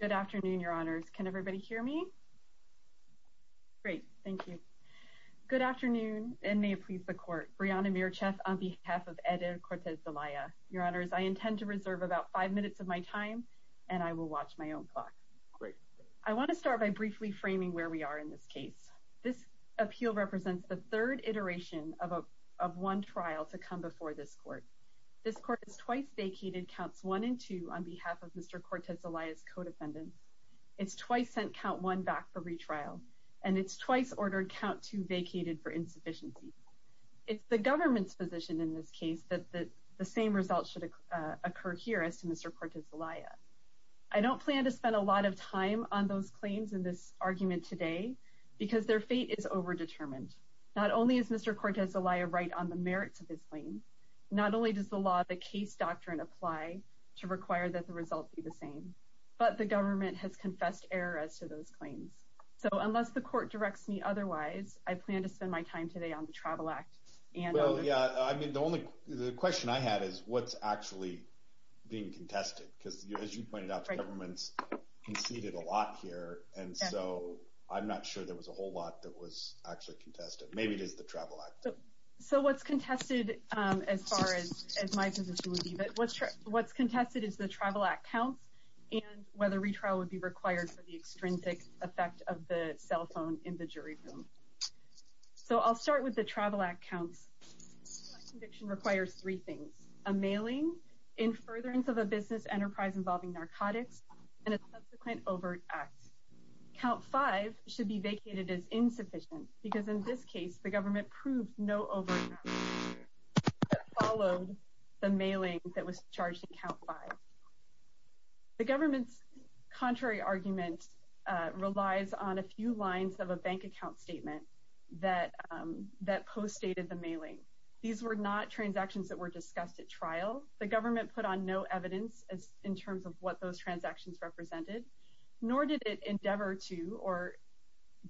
Good afternoon, your honors. Can everybody hear me? Great, thank you. Good afternoon, and may it please the court. Brianna Mircheff on behalf of Eder Cortez-Zelaya. Your honors, I intend to reserve about five minutes of my time, and I will watch my own clock. Great. I want to start by briefly framing where we are in this case. This appeal represents the third iteration of one trial to come before this court. This court is twice vacated, counts one and two on behalf of Mr. Cortez-Zelaya's co-defendants. It's twice sent count one back for retrial, and it's twice ordered count two vacated for insufficiency. It's the government's position in this case that the same results should occur here as to Mr. Cortez-Zelaya. I don't plan to spend a lot of time on those claims in this argument today, because their fate is overdetermined. Not only is Mr. Cortez-Zelaya right on the merits of his claims, not only does the law of the case doctrine apply to require that the results be the same, but the government has confessed error as to those claims. So unless the court directs me otherwise, I plan to spend my time today on the Travel Act and on the- Well, yeah. I mean, the only question I have is what's actually being contested, because as you pointed out, the government's conceded a lot here, and so I'm not sure there was a whole lot that was actually contested. Maybe it is the Travel Act. So what's contested, as far as my position would be, but what's contested is the Travel Act counts and whether retrial would be required for the extrinsic effect of the cell phone in the jury room. So I'll start with the Travel Act counts. My conviction requires three things, a mailing, in furtherance of a business enterprise involving narcotics, and a subsequent overt act. Count five should be vacated as insufficient, because in this case, the government proved no overt act that followed the mailing that was charged in count five. The government's contrary argument relies on a few lines of a bank account statement that postdated the mailing. These were not transactions that were discussed at trial. The government put on no evidence in terms of what those transactions represented, nor did it endeavor to, or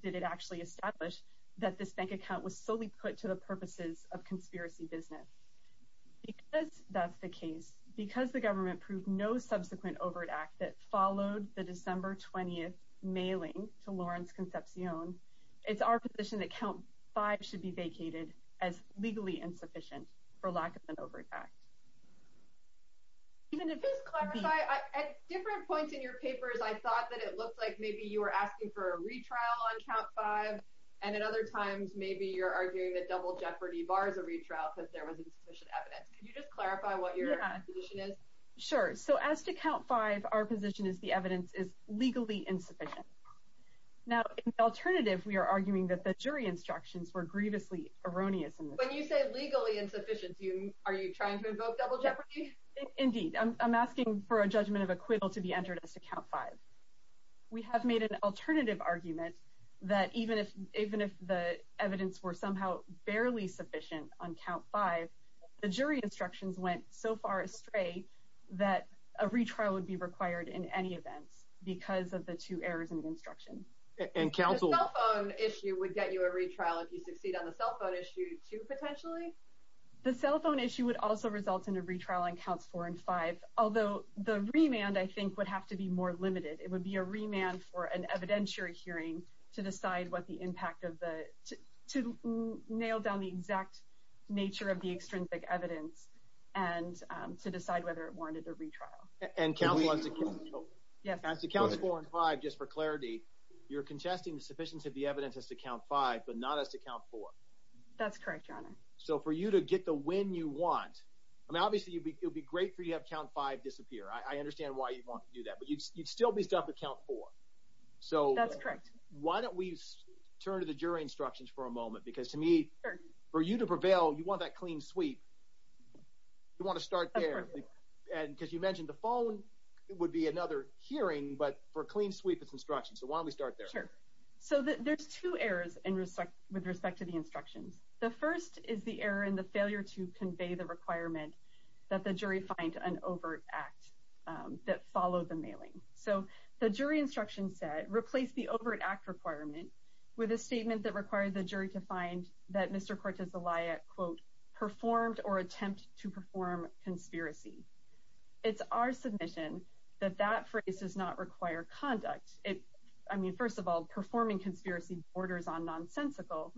did actually establish that this bank account was solely put to the purposes of conspiracy business. Because that's the case, because the government proved no subsequent overt act that followed the December 20th mailing to Lawrence Concepcion, it's our position that count five should be vacated as legally insufficient for lack of an overt act. At different points in your papers, I thought that it looked like maybe you were asking for a retrial on count five, and at other times, maybe you're arguing that double jeopardy bars a retrial because there was insufficient evidence. Can you just clarify what your position is? Sure. So as to count five, our position is the evidence is legally insufficient. Now, in alternative, we are arguing that the jury instructions were grievously erroneous. When you say legally insufficient, are you trying to invoke double jeopardy? Indeed. I'm asking for a judgment of acquittal to be entered as to count five. We have made an alternative argument that even if the evidence were somehow barely sufficient on count five, the jury instructions went so far astray that a retrial would be required in any event because of the two errors in the instruction. And counsel... The cell phone issue would also result in a retrial on counts four and five, although the remand I think would have to be more limited. It would be a remand for an evidentiary hearing to decide what the impact of the... to nail down the exact nature of the extrinsic evidence and to decide whether it warranted a retrial. And counsel wants to count four and five just for clarity. You're contesting the sufficiency of the evidence as to count five, but not as to count four. That's correct, Your Honor. So for you to get the win you want... I mean, obviously, it would be great for you to have count five disappear. I understand why you'd want to do that, but you'd still be stuck with count four. So why don't we turn to the jury instructions for a moment? Because to me, for you to prevail, you want that clean sweep. You want to start there. Because you mentioned the phone would be another hearing, but for a clean sweep, it's instructions. So why don't we start there? So there's two errors with respect to the instructions. The first is the error in the failure to convey the requirement that the jury find an overt act that followed the mailing. So the jury instruction said, replace the overt act requirement with a statement that required the jury to find that Mr. Cortez-Eliot, quote, performed or attempt to perform conspiracy. It's our submission that that phrase does not require conduct. I mean, first of all, performing conspiracy borders on nonsensical.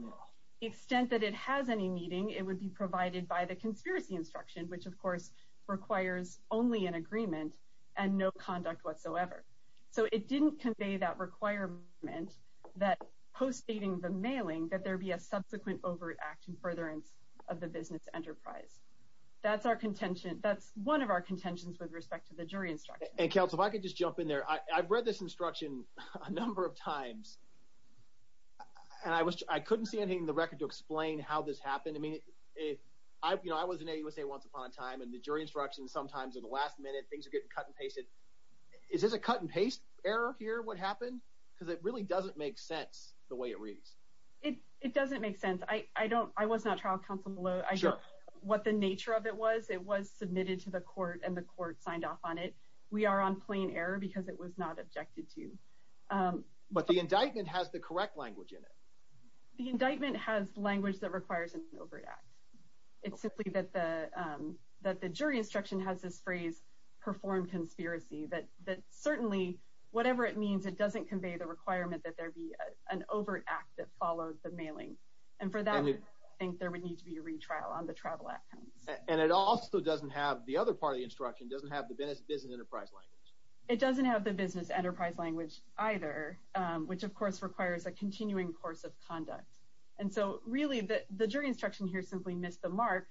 The extent that it has any meaning, it would be provided by the conspiracy instruction, which of course requires only an agreement and no conduct whatsoever. So it didn't convey that requirement that postdating the mailing that there'd be a subsequent overt act in furtherance of the business enterprise. That's one of our contentions with respect to the jury instruction. And counsel, if I could just jump in there. I've read this instruction a number of times, and I couldn't see anything in the record to explain how this happened. I mean, I was in AUSA once upon a time, and the jury instruction sometimes at the last minute, things are getting cut and pasted. Is this a cut and paste error here, what happened? Because it really doesn't make sense the way it reads. It doesn't make sense. I was not trial counsel below. I don't know what the nature of it was. It was submitted to the court, and the court signed off on it. We are on plain error because it was not objected to. But the indictment has the correct language in it. The indictment has language that requires an overt act. It's simply that the jury instruction has this phrase, perform conspiracy, that certainly whatever it means, it doesn't convey the requirement that there be an overt act that followed the mailing. And for that, I think there would need to be a retrial on the travel outcomes. And it also doesn't have, the other part of the instruction doesn't have the business enterprise language. It doesn't have the business enterprise language either, which of course requires a continuing course of conduct. And so really, the jury instruction here simply missed the mark.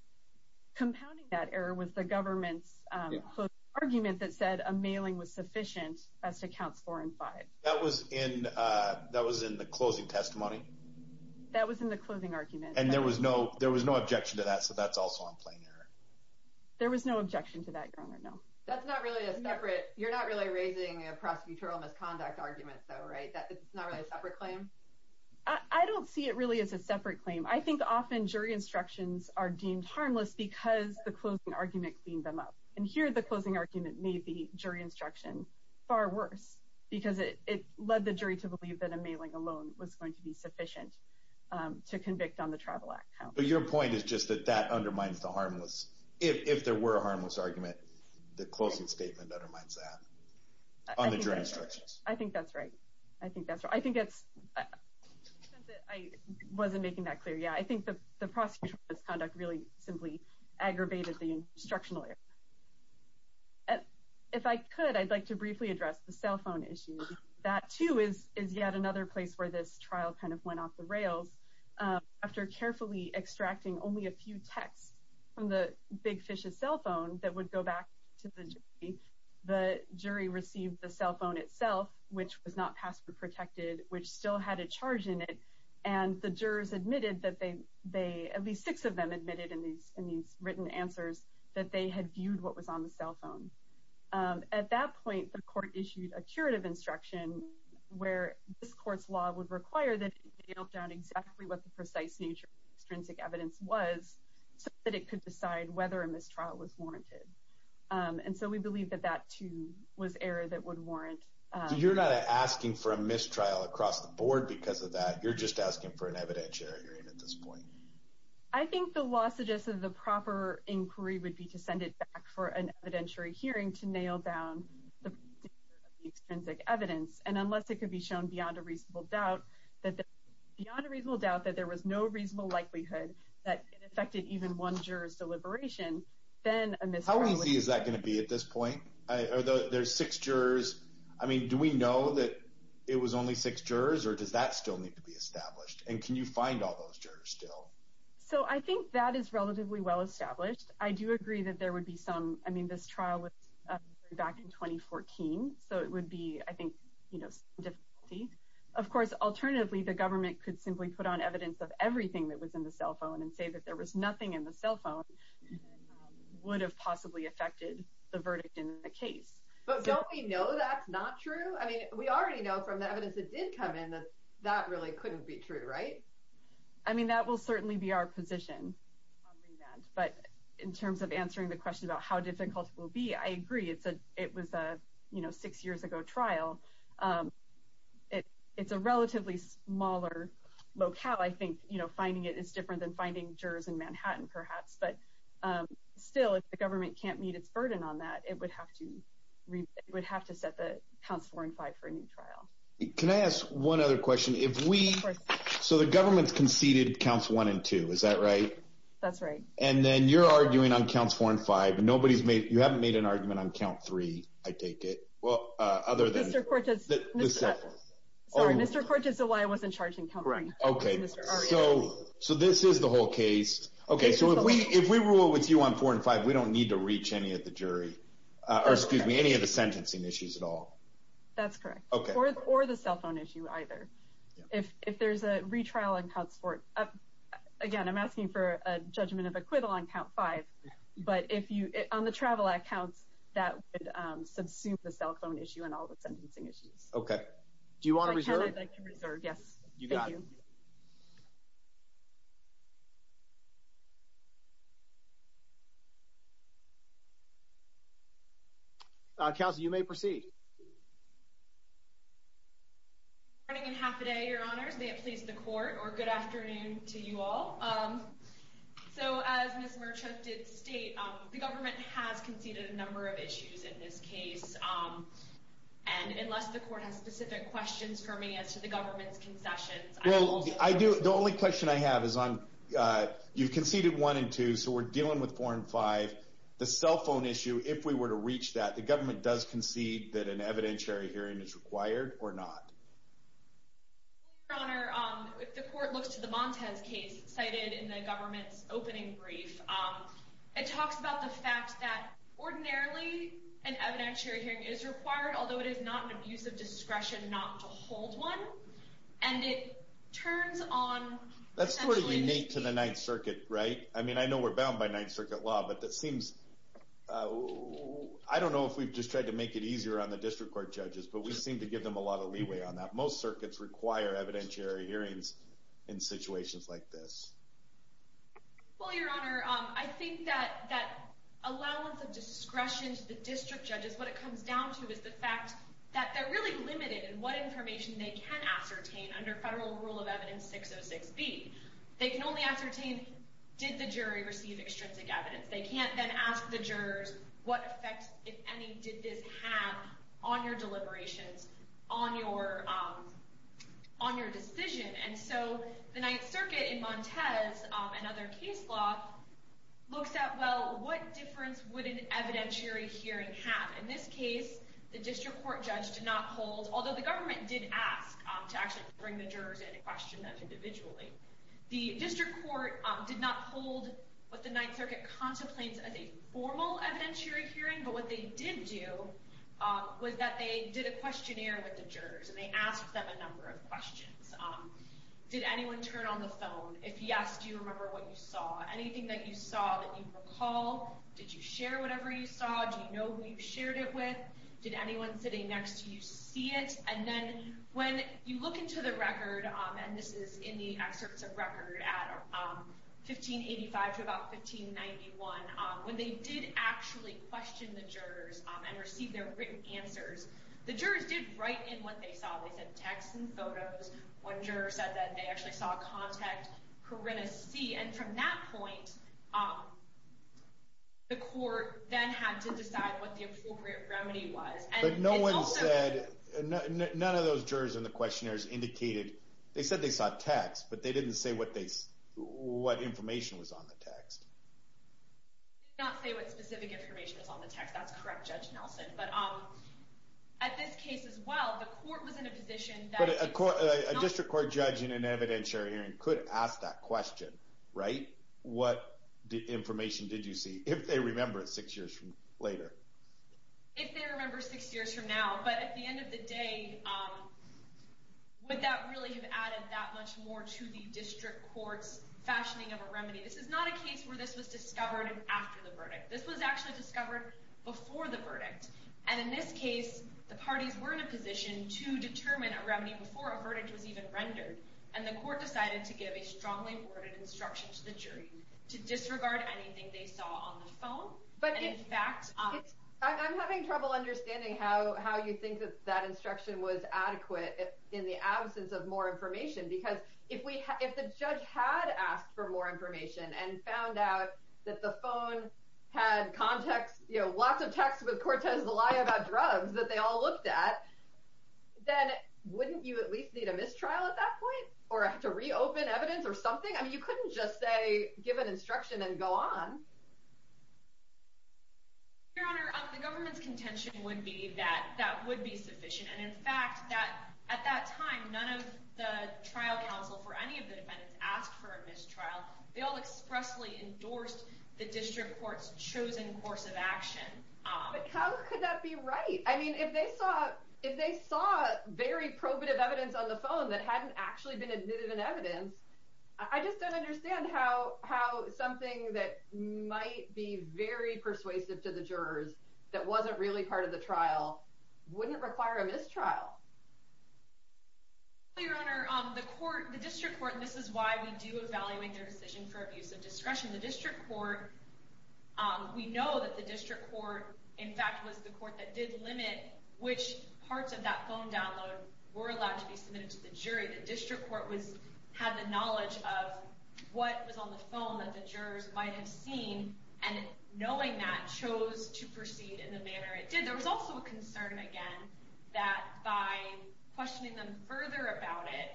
Compounding that error was the government's argument that said a mailing was sufficient as to counts four and five. That was in the closing testimony? That was in the closing argument. And there was no objection to that, so that's also on plain error. There was no objection to that, Your Honor, no. That's not really a separate, you're not really raising a prosecutorial misconduct argument though, right? It's not really a separate claim? I don't see it really as a separate claim. I think often jury instructions are deemed harmless because the closing argument cleaned them up. And here, the closing argument made the jury instruction far worse because it led the jury to believe that a mailing alone was going to be sufficient to convict on the Tribal Act count. But your point is just that that undermines the harmless, if there were a harmless argument, the closing statement undermines that on the jury instructions. I think that's right. I think that's right. I think it's, I wasn't making that clear. Yeah, I think the prosecutorial misconduct really simply aggravated the instructional error. If I could, I'd like to briefly address the cell phone issue. That too is yet another place where this trial kind of went off the rails. After carefully extracting only a few texts from the big fish's cell phone that would go back to the jury, the jury received the cell phone itself, which was not password protected, which still had a charge in it. And the jurors admitted that they, at least six of them admitted in these written answers that they had viewed what was on the cell phone. At that point, the court issued a curative instruction where this court's law would require that it nailed down exactly what the precise nature of the extrinsic evidence was so that it could decide whether a mistrial was warranted. And so we believe that that too was error that would warrant. You're not asking for a mistrial across the board because of that. You're just asking for an evidentiary hearing at this point. I think the law suggested the proper inquiry would be to send it back for an evidentiary hearing to nail down the extrinsic evidence. And unless it could be shown beyond a reasonable doubt that there was no reasonable likelihood that it affected even one juror's deliberation, then a mistrial would be... How easy is that going to be at this point? There's six jurors. I mean, do we know that it was only six jurors, or does that still need to be established? And can you find all those jurors still? So I think that is relatively well established. I do agree that there would be some... I mean, this trial was back in 2014, so it would be, I think, some difficulty. Of course, alternatively, the government could simply put on evidence of everything that was in the cell phone and say that there was nothing in the cell phone that would have possibly affected the verdict in the case. But don't we know that's not true? I mean, we already know from the evidence that did come in that that really couldn't be true, right? I mean, that will certainly be our position on that. But in terms of answering the question about how difficult it will be, I agree. It was a six years ago trial. It's a relatively smaller locale. I think finding it is different than finding jurors in Manhattan, perhaps. But still, if the government can't meet its burden on that, it would have to set the counts four and five for a new trial. Can I ask one other question? So the government conceded counts one and two, is that right? That's right. And then you're arguing on counts four and five. You haven't made an argument on count three, I take it, other than... Mr. Cortez. Sorry, Mr. Cortez is the one I wasn't charging count three. Okay, so this is the whole case. Okay, so if we rule with you on four and five, we don't need to reach any of the jury, or excuse me, any of the sentencing issues at all. That's correct. Or the cell phone issue, either. If there's a retrial on counts four, again, I'm asking for a judgment of acquittal on count five, but on the travel accounts, that would subsume the cell phone issue and all the sentencing issues. Okay. Do you want to reserve? I'd like to reserve, yes. Thank you. Counsel, you may proceed. Good morning and half a day, your honors. May it please the court, or good afternoon to you all. So as Ms. Merchuk did state, the government has conceded a number of issues in this case, and unless the court has specific questions for me as to the government's concessions, I will... Well, I do. The only question I have is on, you conceded one and two, so we're dealing with four and five. The cell phone issue, if we were to reach that, the government does concede that an evidentiary hearing is required or not? Your honor, if the court looks to the Montez case, cited in the government's opening brief, it talks about the fact that ordinarily an evidentiary hearing is required, although it is not an abuse of discretion not to hold one, and it turns on... That's sort of unique to the Ninth Circuit, right? I mean, I know we're bound by Ninth Circuit law, but that seems... I don't know if we've just tried to make it easier on the district court judges, but we seem to give them a lot of leeway on that. Most circuits require evidentiary hearings in situations like this. Well, your honor, I think that allowance of discretion to the district judges, what it comes down to is the fact that they're really limited in what information they can ascertain under federal rule of evidence 606B. They can only ascertain, did the jury receive extrinsic evidence? They can't then ask the jurors, what effects, if any, did this have on your deliberations, on your decision? And so the Ninth Circuit in Montez and other case law looks at, well, what difference would an evidentiary hearing have? In this case, the district court judge did not hold... Although the government did ask to actually bring the jurors in and question them individually. The district court did not hold what the Ninth Circuit contemplates as a formal evidentiary hearing, but what they did do was that they did a questionnaire with the jurors, and they asked them a number of questions. Did anyone turn on the phone? If yes, do you remember what you saw? Anything that you saw that you recall? Did you share whatever you saw? Do you know who you shared it with? Did anyone sitting next to you see it? And then when you look into the record, and this is in the excerpts of record at 1585 to about 1591, when they did actually question the jurors and receive their written answers, the jurors did write in what they saw. They sent texts and photos. One juror said that they actually saw a contact, Corinna C. And from that point, the court then had to decide what the appropriate remedy was. But no one said... None of those jurors in the questionnaires indicated... They said they saw texts, but they didn't say what information was on the text. They did not say what specific information was on the text. That's correct, Judge Nelson. But at this case as well, the court was in a position that... But a district court judge in an evidentiary hearing could ask that question, right? What information did you see, if they remember it six years later? If they remember six years from now, but at the end of the day, would that really have added that much more to the district court's fashioning of a remedy? This is not a case where this was discovered before the verdict. And in this case, the parties were in a position to determine a remedy before a verdict was even rendered. And the court decided to give a strongly worded instruction to the jury to disregard anything they saw on the phone. But in fact... I'm having trouble understanding how you think that that instruction was adequate in the absence of more information. Because if the judge had asked for more information and found out that the phone had lots of texts with Cortez Zelaya about drugs that they all looked at, then wouldn't you at least need a mistrial at that point? Or to reopen evidence or something? I mean, you couldn't just say, give an instruction and go on. Your Honor, the government's contention would be that that would be sufficient. And in fact, at that time, none of the trial counsel for any of the defendants asked for a mistrial. They all expressly endorsed the district court's chosen course of action. But how could that be right? I mean, if they saw very probative evidence on the phone that hadn't actually been admitted in evidence, I just don't understand how something that might be very persuasive to the jurors that wasn't really part of the trial wouldn't require a mistrial. Your Honor, the district court, and this is why we do evaluate their decision for abuse of discretion, the district court, we know that the district court, in fact, was the court that did limit which parts of that phone download were allowed to be submitted to the jury. The district court had the knowledge of what was on the phone that the jurors might have seen, and knowing that, chose to proceed in the manner it did. There was also a concern, again, that by questioning them further about it,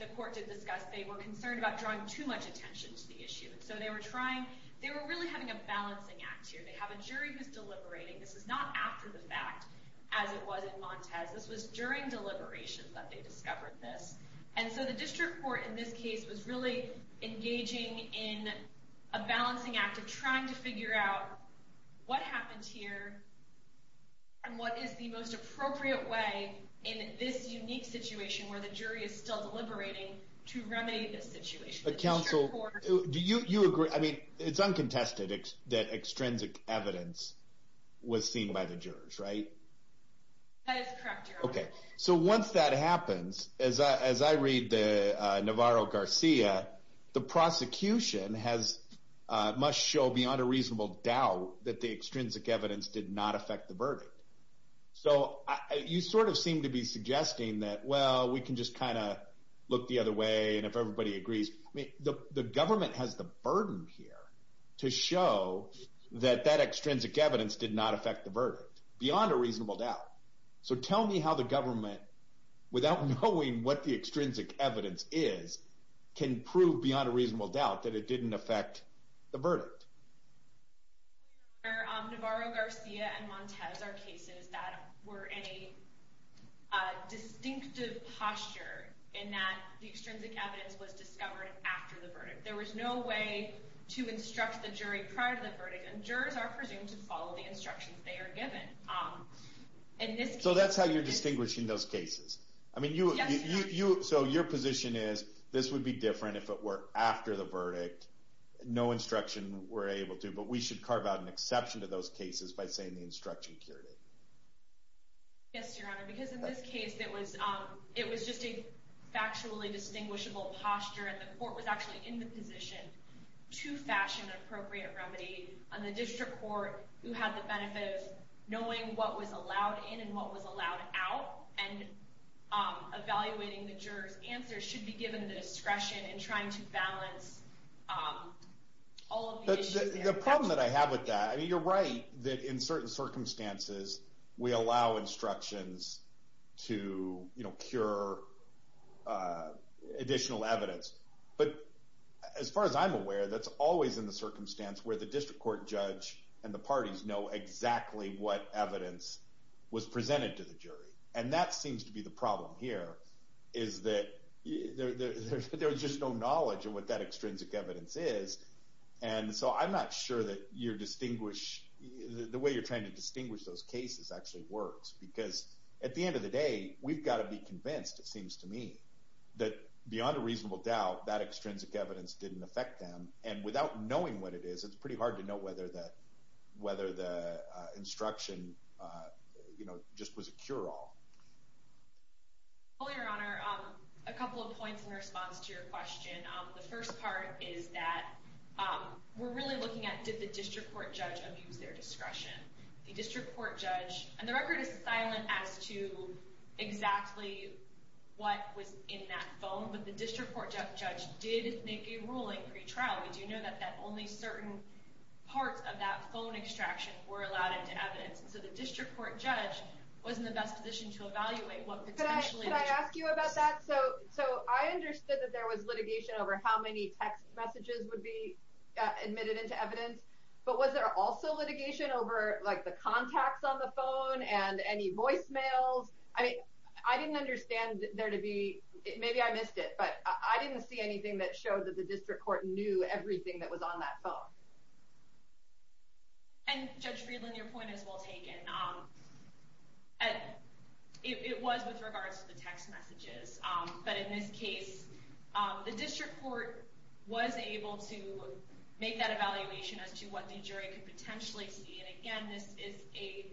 the court did discuss, they were concerned about drawing too much attention to the issue. So they were trying, they were really having a balancing act here. They have a jury who's deliberating. This is not after the fact, as it was in Montez. This was during deliberations that they discovered this. And so the district court, in this case, was really engaging in a balancing act of trying to figure out what happens here, and what is the most appropriate way in this unique situation, where the jury is still deliberating, to remedy this situation. But counsel, do you agree, I mean, it's uncontested that extrinsic evidence was seen by the jurors, right? That is correct, Your Honor. OK, so once that happens, as I read Navarro-Garcia, the prosecution must show beyond a reasonable doubt that the extrinsic evidence did not affect the verdict. So you sort of seem to be suggesting that, well, we can just kind of look the other way, and if everybody agrees. I mean, the government has the burden here to show that that extrinsic evidence did not affect the verdict, beyond a reasonable doubt. So tell me how the government, without knowing what the extrinsic evidence is, can prove beyond a reasonable doubt that it didn't affect the verdict. Your Honor, Navarro-Garcia and Montez are cases that were in a distinctive posture, in that the extrinsic evidence was discovered after the verdict. There was no way to instruct the jury prior to the verdict, and jurors are presumed to follow the instructions they are given. So that's how you're distinguishing those cases? I mean, so your position is, this would be different if it were after the verdict, no instruction were able to, but we should carve out an exception to those cases by saying the instruction cured it. Yes, Your Honor, because in this case, it was just a factually distinguishable posture, and the court was actually in the position to fashion an appropriate remedy, and the district court, who had the benefit of knowing what was allowed in and what was allowed out, and evaluating the jurors' answers, should be given the discretion in trying to balance all of the issues there. The problem that I have with that, I mean, you're right that in certain circumstances, we allow instructions to cure additional evidence, but as far as I'm aware, that's always in the circumstance where the district court judge and the parties know exactly what evidence was presented to the jury, and that seems to be the problem here, is that there's just no knowledge of what that extrinsic evidence is, and so I'm not sure that the way you're trying to distinguish those cases actually works, because at the end of the day, we've got to be convinced, it seems to me, that beyond a reasonable doubt, that extrinsic evidence didn't affect them, and without knowing what it is, it's pretty hard to know whether the instruction just was a cure-all. Well, Your Honor, a couple of points in response to your question. The first part is that we're really looking at, did the district court judge abuse their discretion? The district court judge, and the record is silent as to exactly what was in that phone, but the district court judge did make a ruling pre-trial. We do know that only certain parts of that phone extraction were allowed into evidence, and so the district court judge was in the best position to evaluate what potentially... Can I ask you about that? So I understood that there was litigation over how many text messages would be admitted into evidence, but was there also litigation over the contacts on the phone and any voicemails? I didn't understand there to be... maybe I missed it, but I didn't see anything that showed that the district court knew everything that was on that phone. And Judge Friedland, your point is well taken. It was with regards to the text messages, but in this case, the district court was able to make that evaluation as to what the jury could potentially see, and again, this is a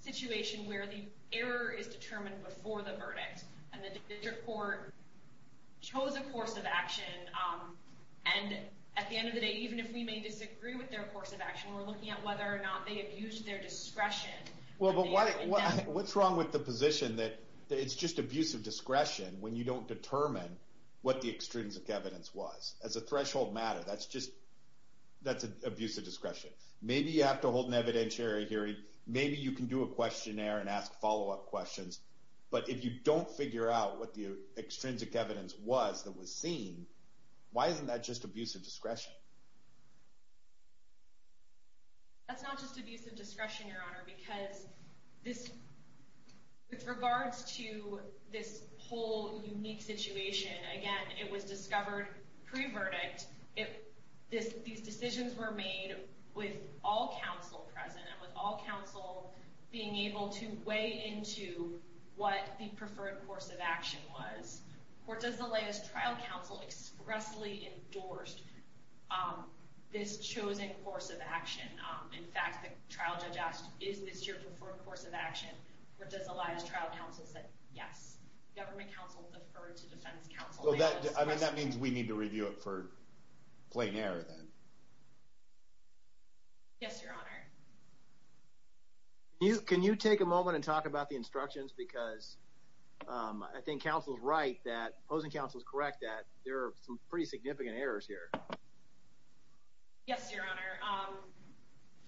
situation where the error is determined before the verdict, and the district court chose a course of action, and at the end of the day, even if we may disagree with their course of action, we're looking at whether or not they abused their discretion. Well, but what's wrong with the position that it's just abuse of discretion when you don't determine what the extrinsic evidence was? As a threshold matter, that's just... that's abuse of discretion. Maybe you have to hold an evidentiary hearing. Maybe you can do a questionnaire and ask follow-up questions, but if you don't figure out what the extrinsic evidence was that was seen, why isn't that just abuse of discretion? That's not just abuse of discretion, Your Honor, because this... with regards to this whole unique situation, again, it was discovered pre-verdict. These decisions were made with all counsel present, with all counsel being able to weigh into what the preferred course of action was. Or does the latest trial counsel expressly endorsed this chosen course of action? In fact, the trial judge asked, is this your preferred course of action? Or does the latest trial counsel say, yes? Government counsel deferred to defense counsel. Well, that means we need to review it for plain error, then. Yes, Your Honor. Can you take a moment and talk about the instructions? Because I think counsel is right that, opposing counsel is correct, that there are some pretty significant errors here. Yes, Your Honor.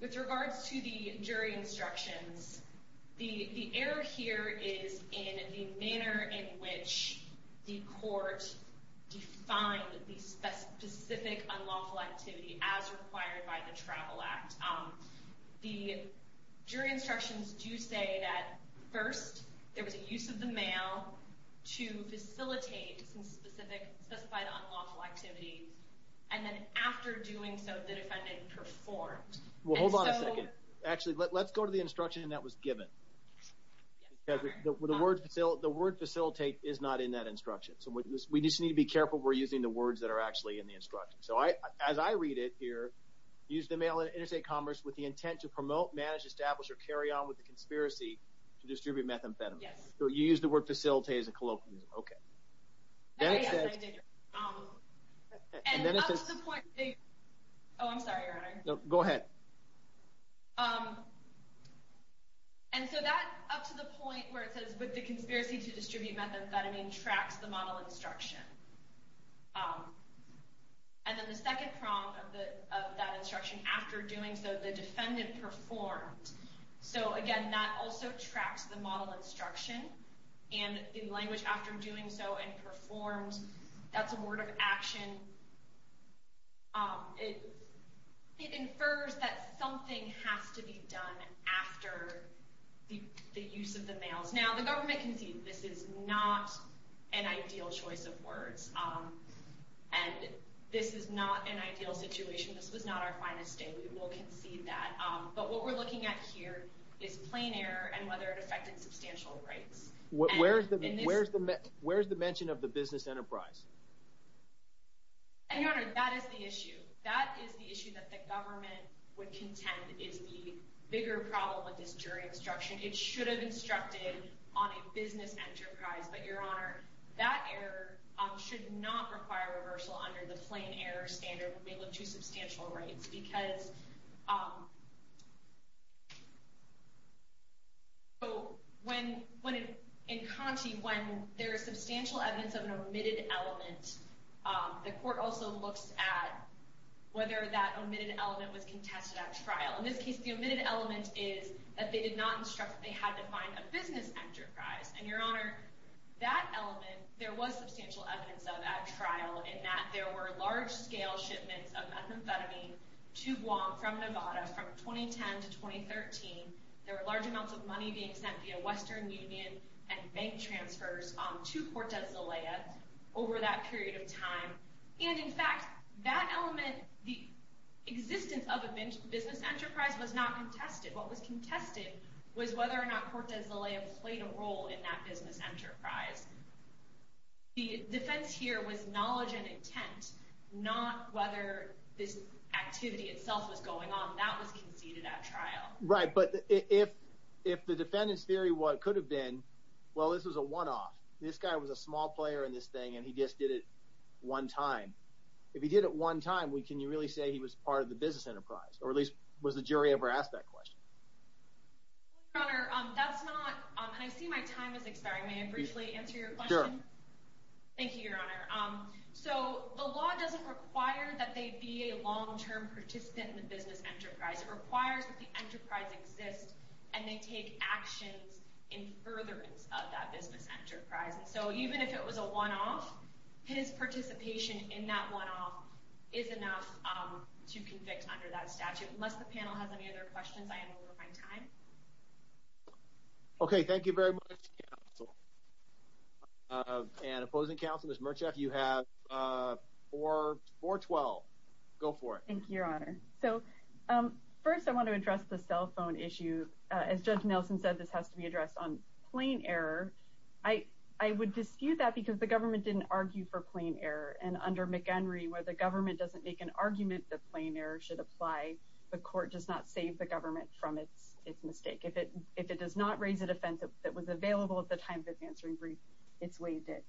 With regards to the jury instructions, the error here is in the manner in which the court defined the specific unlawful activity as required by the Travel Act. The jury instructions do say that, first, there was a use of the mail to facilitate some specified unlawful activity, and then after doing so, the defendant performed. Well, hold on a second. Actually, let's go to the instruction that was given. The word facilitate is not in that instruction. So we just need to be careful we're using the words that are actually in the instruction. So as I read it here, use the mail in interstate commerce with the intent to promote, manage, establish, or carry on with the conspiracy to distribute methamphetamine. Yes. You used the word facilitate as a colloquialism. Okay. Oh, yes, I did. And up to the point they, oh, I'm sorry, Your Honor. No, go ahead. And so that up to the point where it says, with the conspiracy to distribute methamphetamine tracks the model instruction. And then the second prong of that instruction, after doing so, the defendant performed. So, again, that also tracks the model instruction, and the language after doing so and performed, that's a word of action. It infers that something has to be done after the use of the mails. Now, the government concedes this is not an ideal choice of words, and this is not an ideal situation. This was not our finest day. We will concede that. But what we're looking at here is plain error and whether it affected substantial rights. Where's the mention of the business enterprise? And, Your Honor, that is the issue. That is the issue that the government would contend is the bigger problem with this jury instruction. It should have instructed on a business enterprise, but, Your Honor, that error should not require reversal under the plain error standard when we look to substantial rights. Because in Conti, when there is substantial evidence of an omitted element, the court also looks at whether that omitted element was contested at trial. In this case, the omitted element is that they did not instruct that they had to find a business enterprise. And, Your Honor, that element there was substantial evidence of at trial in that there were large-scale shipments of methamphetamine to Guam from Nevada from 2010 to 2013. There were large amounts of money being sent via Western Union and bank transfers to Cortez de Lea over that period of time. And, in fact, that element, the existence of a business enterprise was not contested. What was contested was whether or not Cortez de Lea played a role in that business enterprise. The defense here was knowledge and intent, not whether this activity itself was going on. That was conceded at trial. Right, but if the defendant's theory could have been, well, this was a one-off. This guy was a small player in this thing, and he just did it one time. If he did it one time, can you really say he was part of the business enterprise? Or at least, was the jury ever asked that question? Your Honor, that's not – and I see my time is expiring. May I briefly answer your question? Sure. Thank you, Your Honor. So the law doesn't require that they be a long-term participant in the business enterprise. It requires that the enterprise exist and they take actions in furtherance of that business enterprise. And so even if it was a one-off, his participation in that one-off is enough to convict under that statute. Unless the panel has any other questions, I am over my time. Okay, thank you very much, counsel. And opposing counsel, Ms. Merchef, you have 412. Go for it. Thank you, Your Honor. So first I want to address the cell phone issue. As Judge Nelson said, this has to be addressed on plain error. I would dispute that because the government didn't argue for plain error. And under McHenry, where the government doesn't make an argument that plain error should apply, the court does not save the government from its mistake. If it does not raise a defense that was available at the time of its answering brief, it's waived it.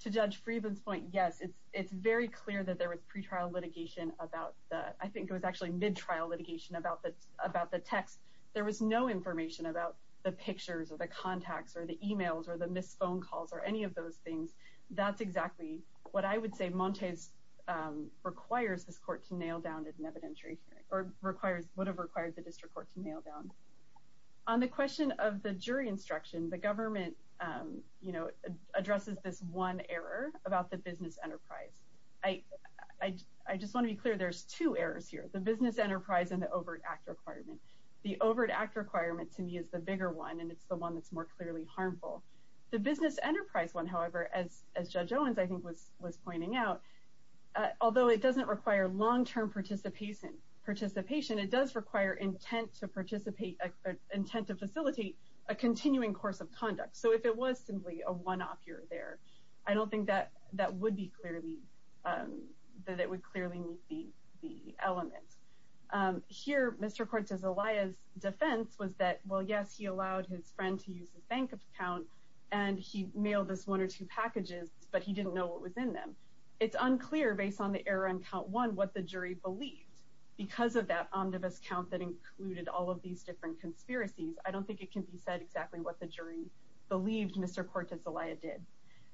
To Judge Freedman's point, yes, it's very clear that there was pre-trial litigation about that. I think it was actually mid-trial litigation about the text. There was no information about the pictures or the contacts or the e-mails or the missed phone calls or any of those things. That's exactly what I would say Montez requires this court to nail down as an evidentiary hearing, or would have required the district court to nail down. On the question of the jury instruction, the government, you know, addresses this one error about the business enterprise. I just want to be clear, there's two errors here, the business enterprise and the overt act requirement. The overt act requirement to me is the bigger one, and it's the one that's more clearly harmful. The business enterprise one, however, as Judge Owens, I think, was pointing out, although it doesn't require long-term participation, it does require intent to facilitate a continuing course of conduct. So if it was simply a one-off, you're there. I don't think that it would clearly meet the elements. Here, Mr. Quartz's defense was that, well, yes, he allowed his friend to use his bank account, and he mailed us one or two packages, but he didn't know what was in them. It's unclear, based on the error on count one, what the jury believed. Because of that omnibus count that included all of these different conspiracies, I don't think it can be said exactly what the jury believed Mr. Quartz's alliance did.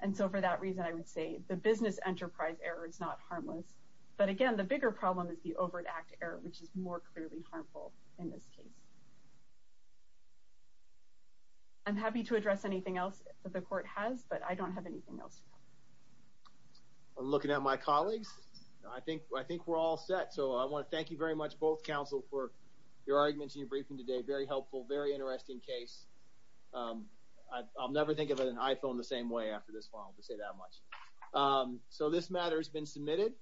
And so for that reason, I would say the business enterprise error is not harmless. But again, the bigger problem is the overt act error, which is more clearly harmful in this case. I'm happy to address anything else that the court has, but I don't have anything else. I'm looking at my colleagues. I think we're all set. So I want to thank you very much, both counsel, for your arguments and your briefing today. Very helpful, very interesting case. I'll never think of an iPhone the same way after this file, to say that much. So this matter has been submitted.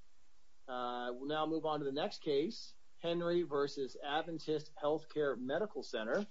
We'll now move on to the next case, Henry v. Adventist Health Care Medical Center.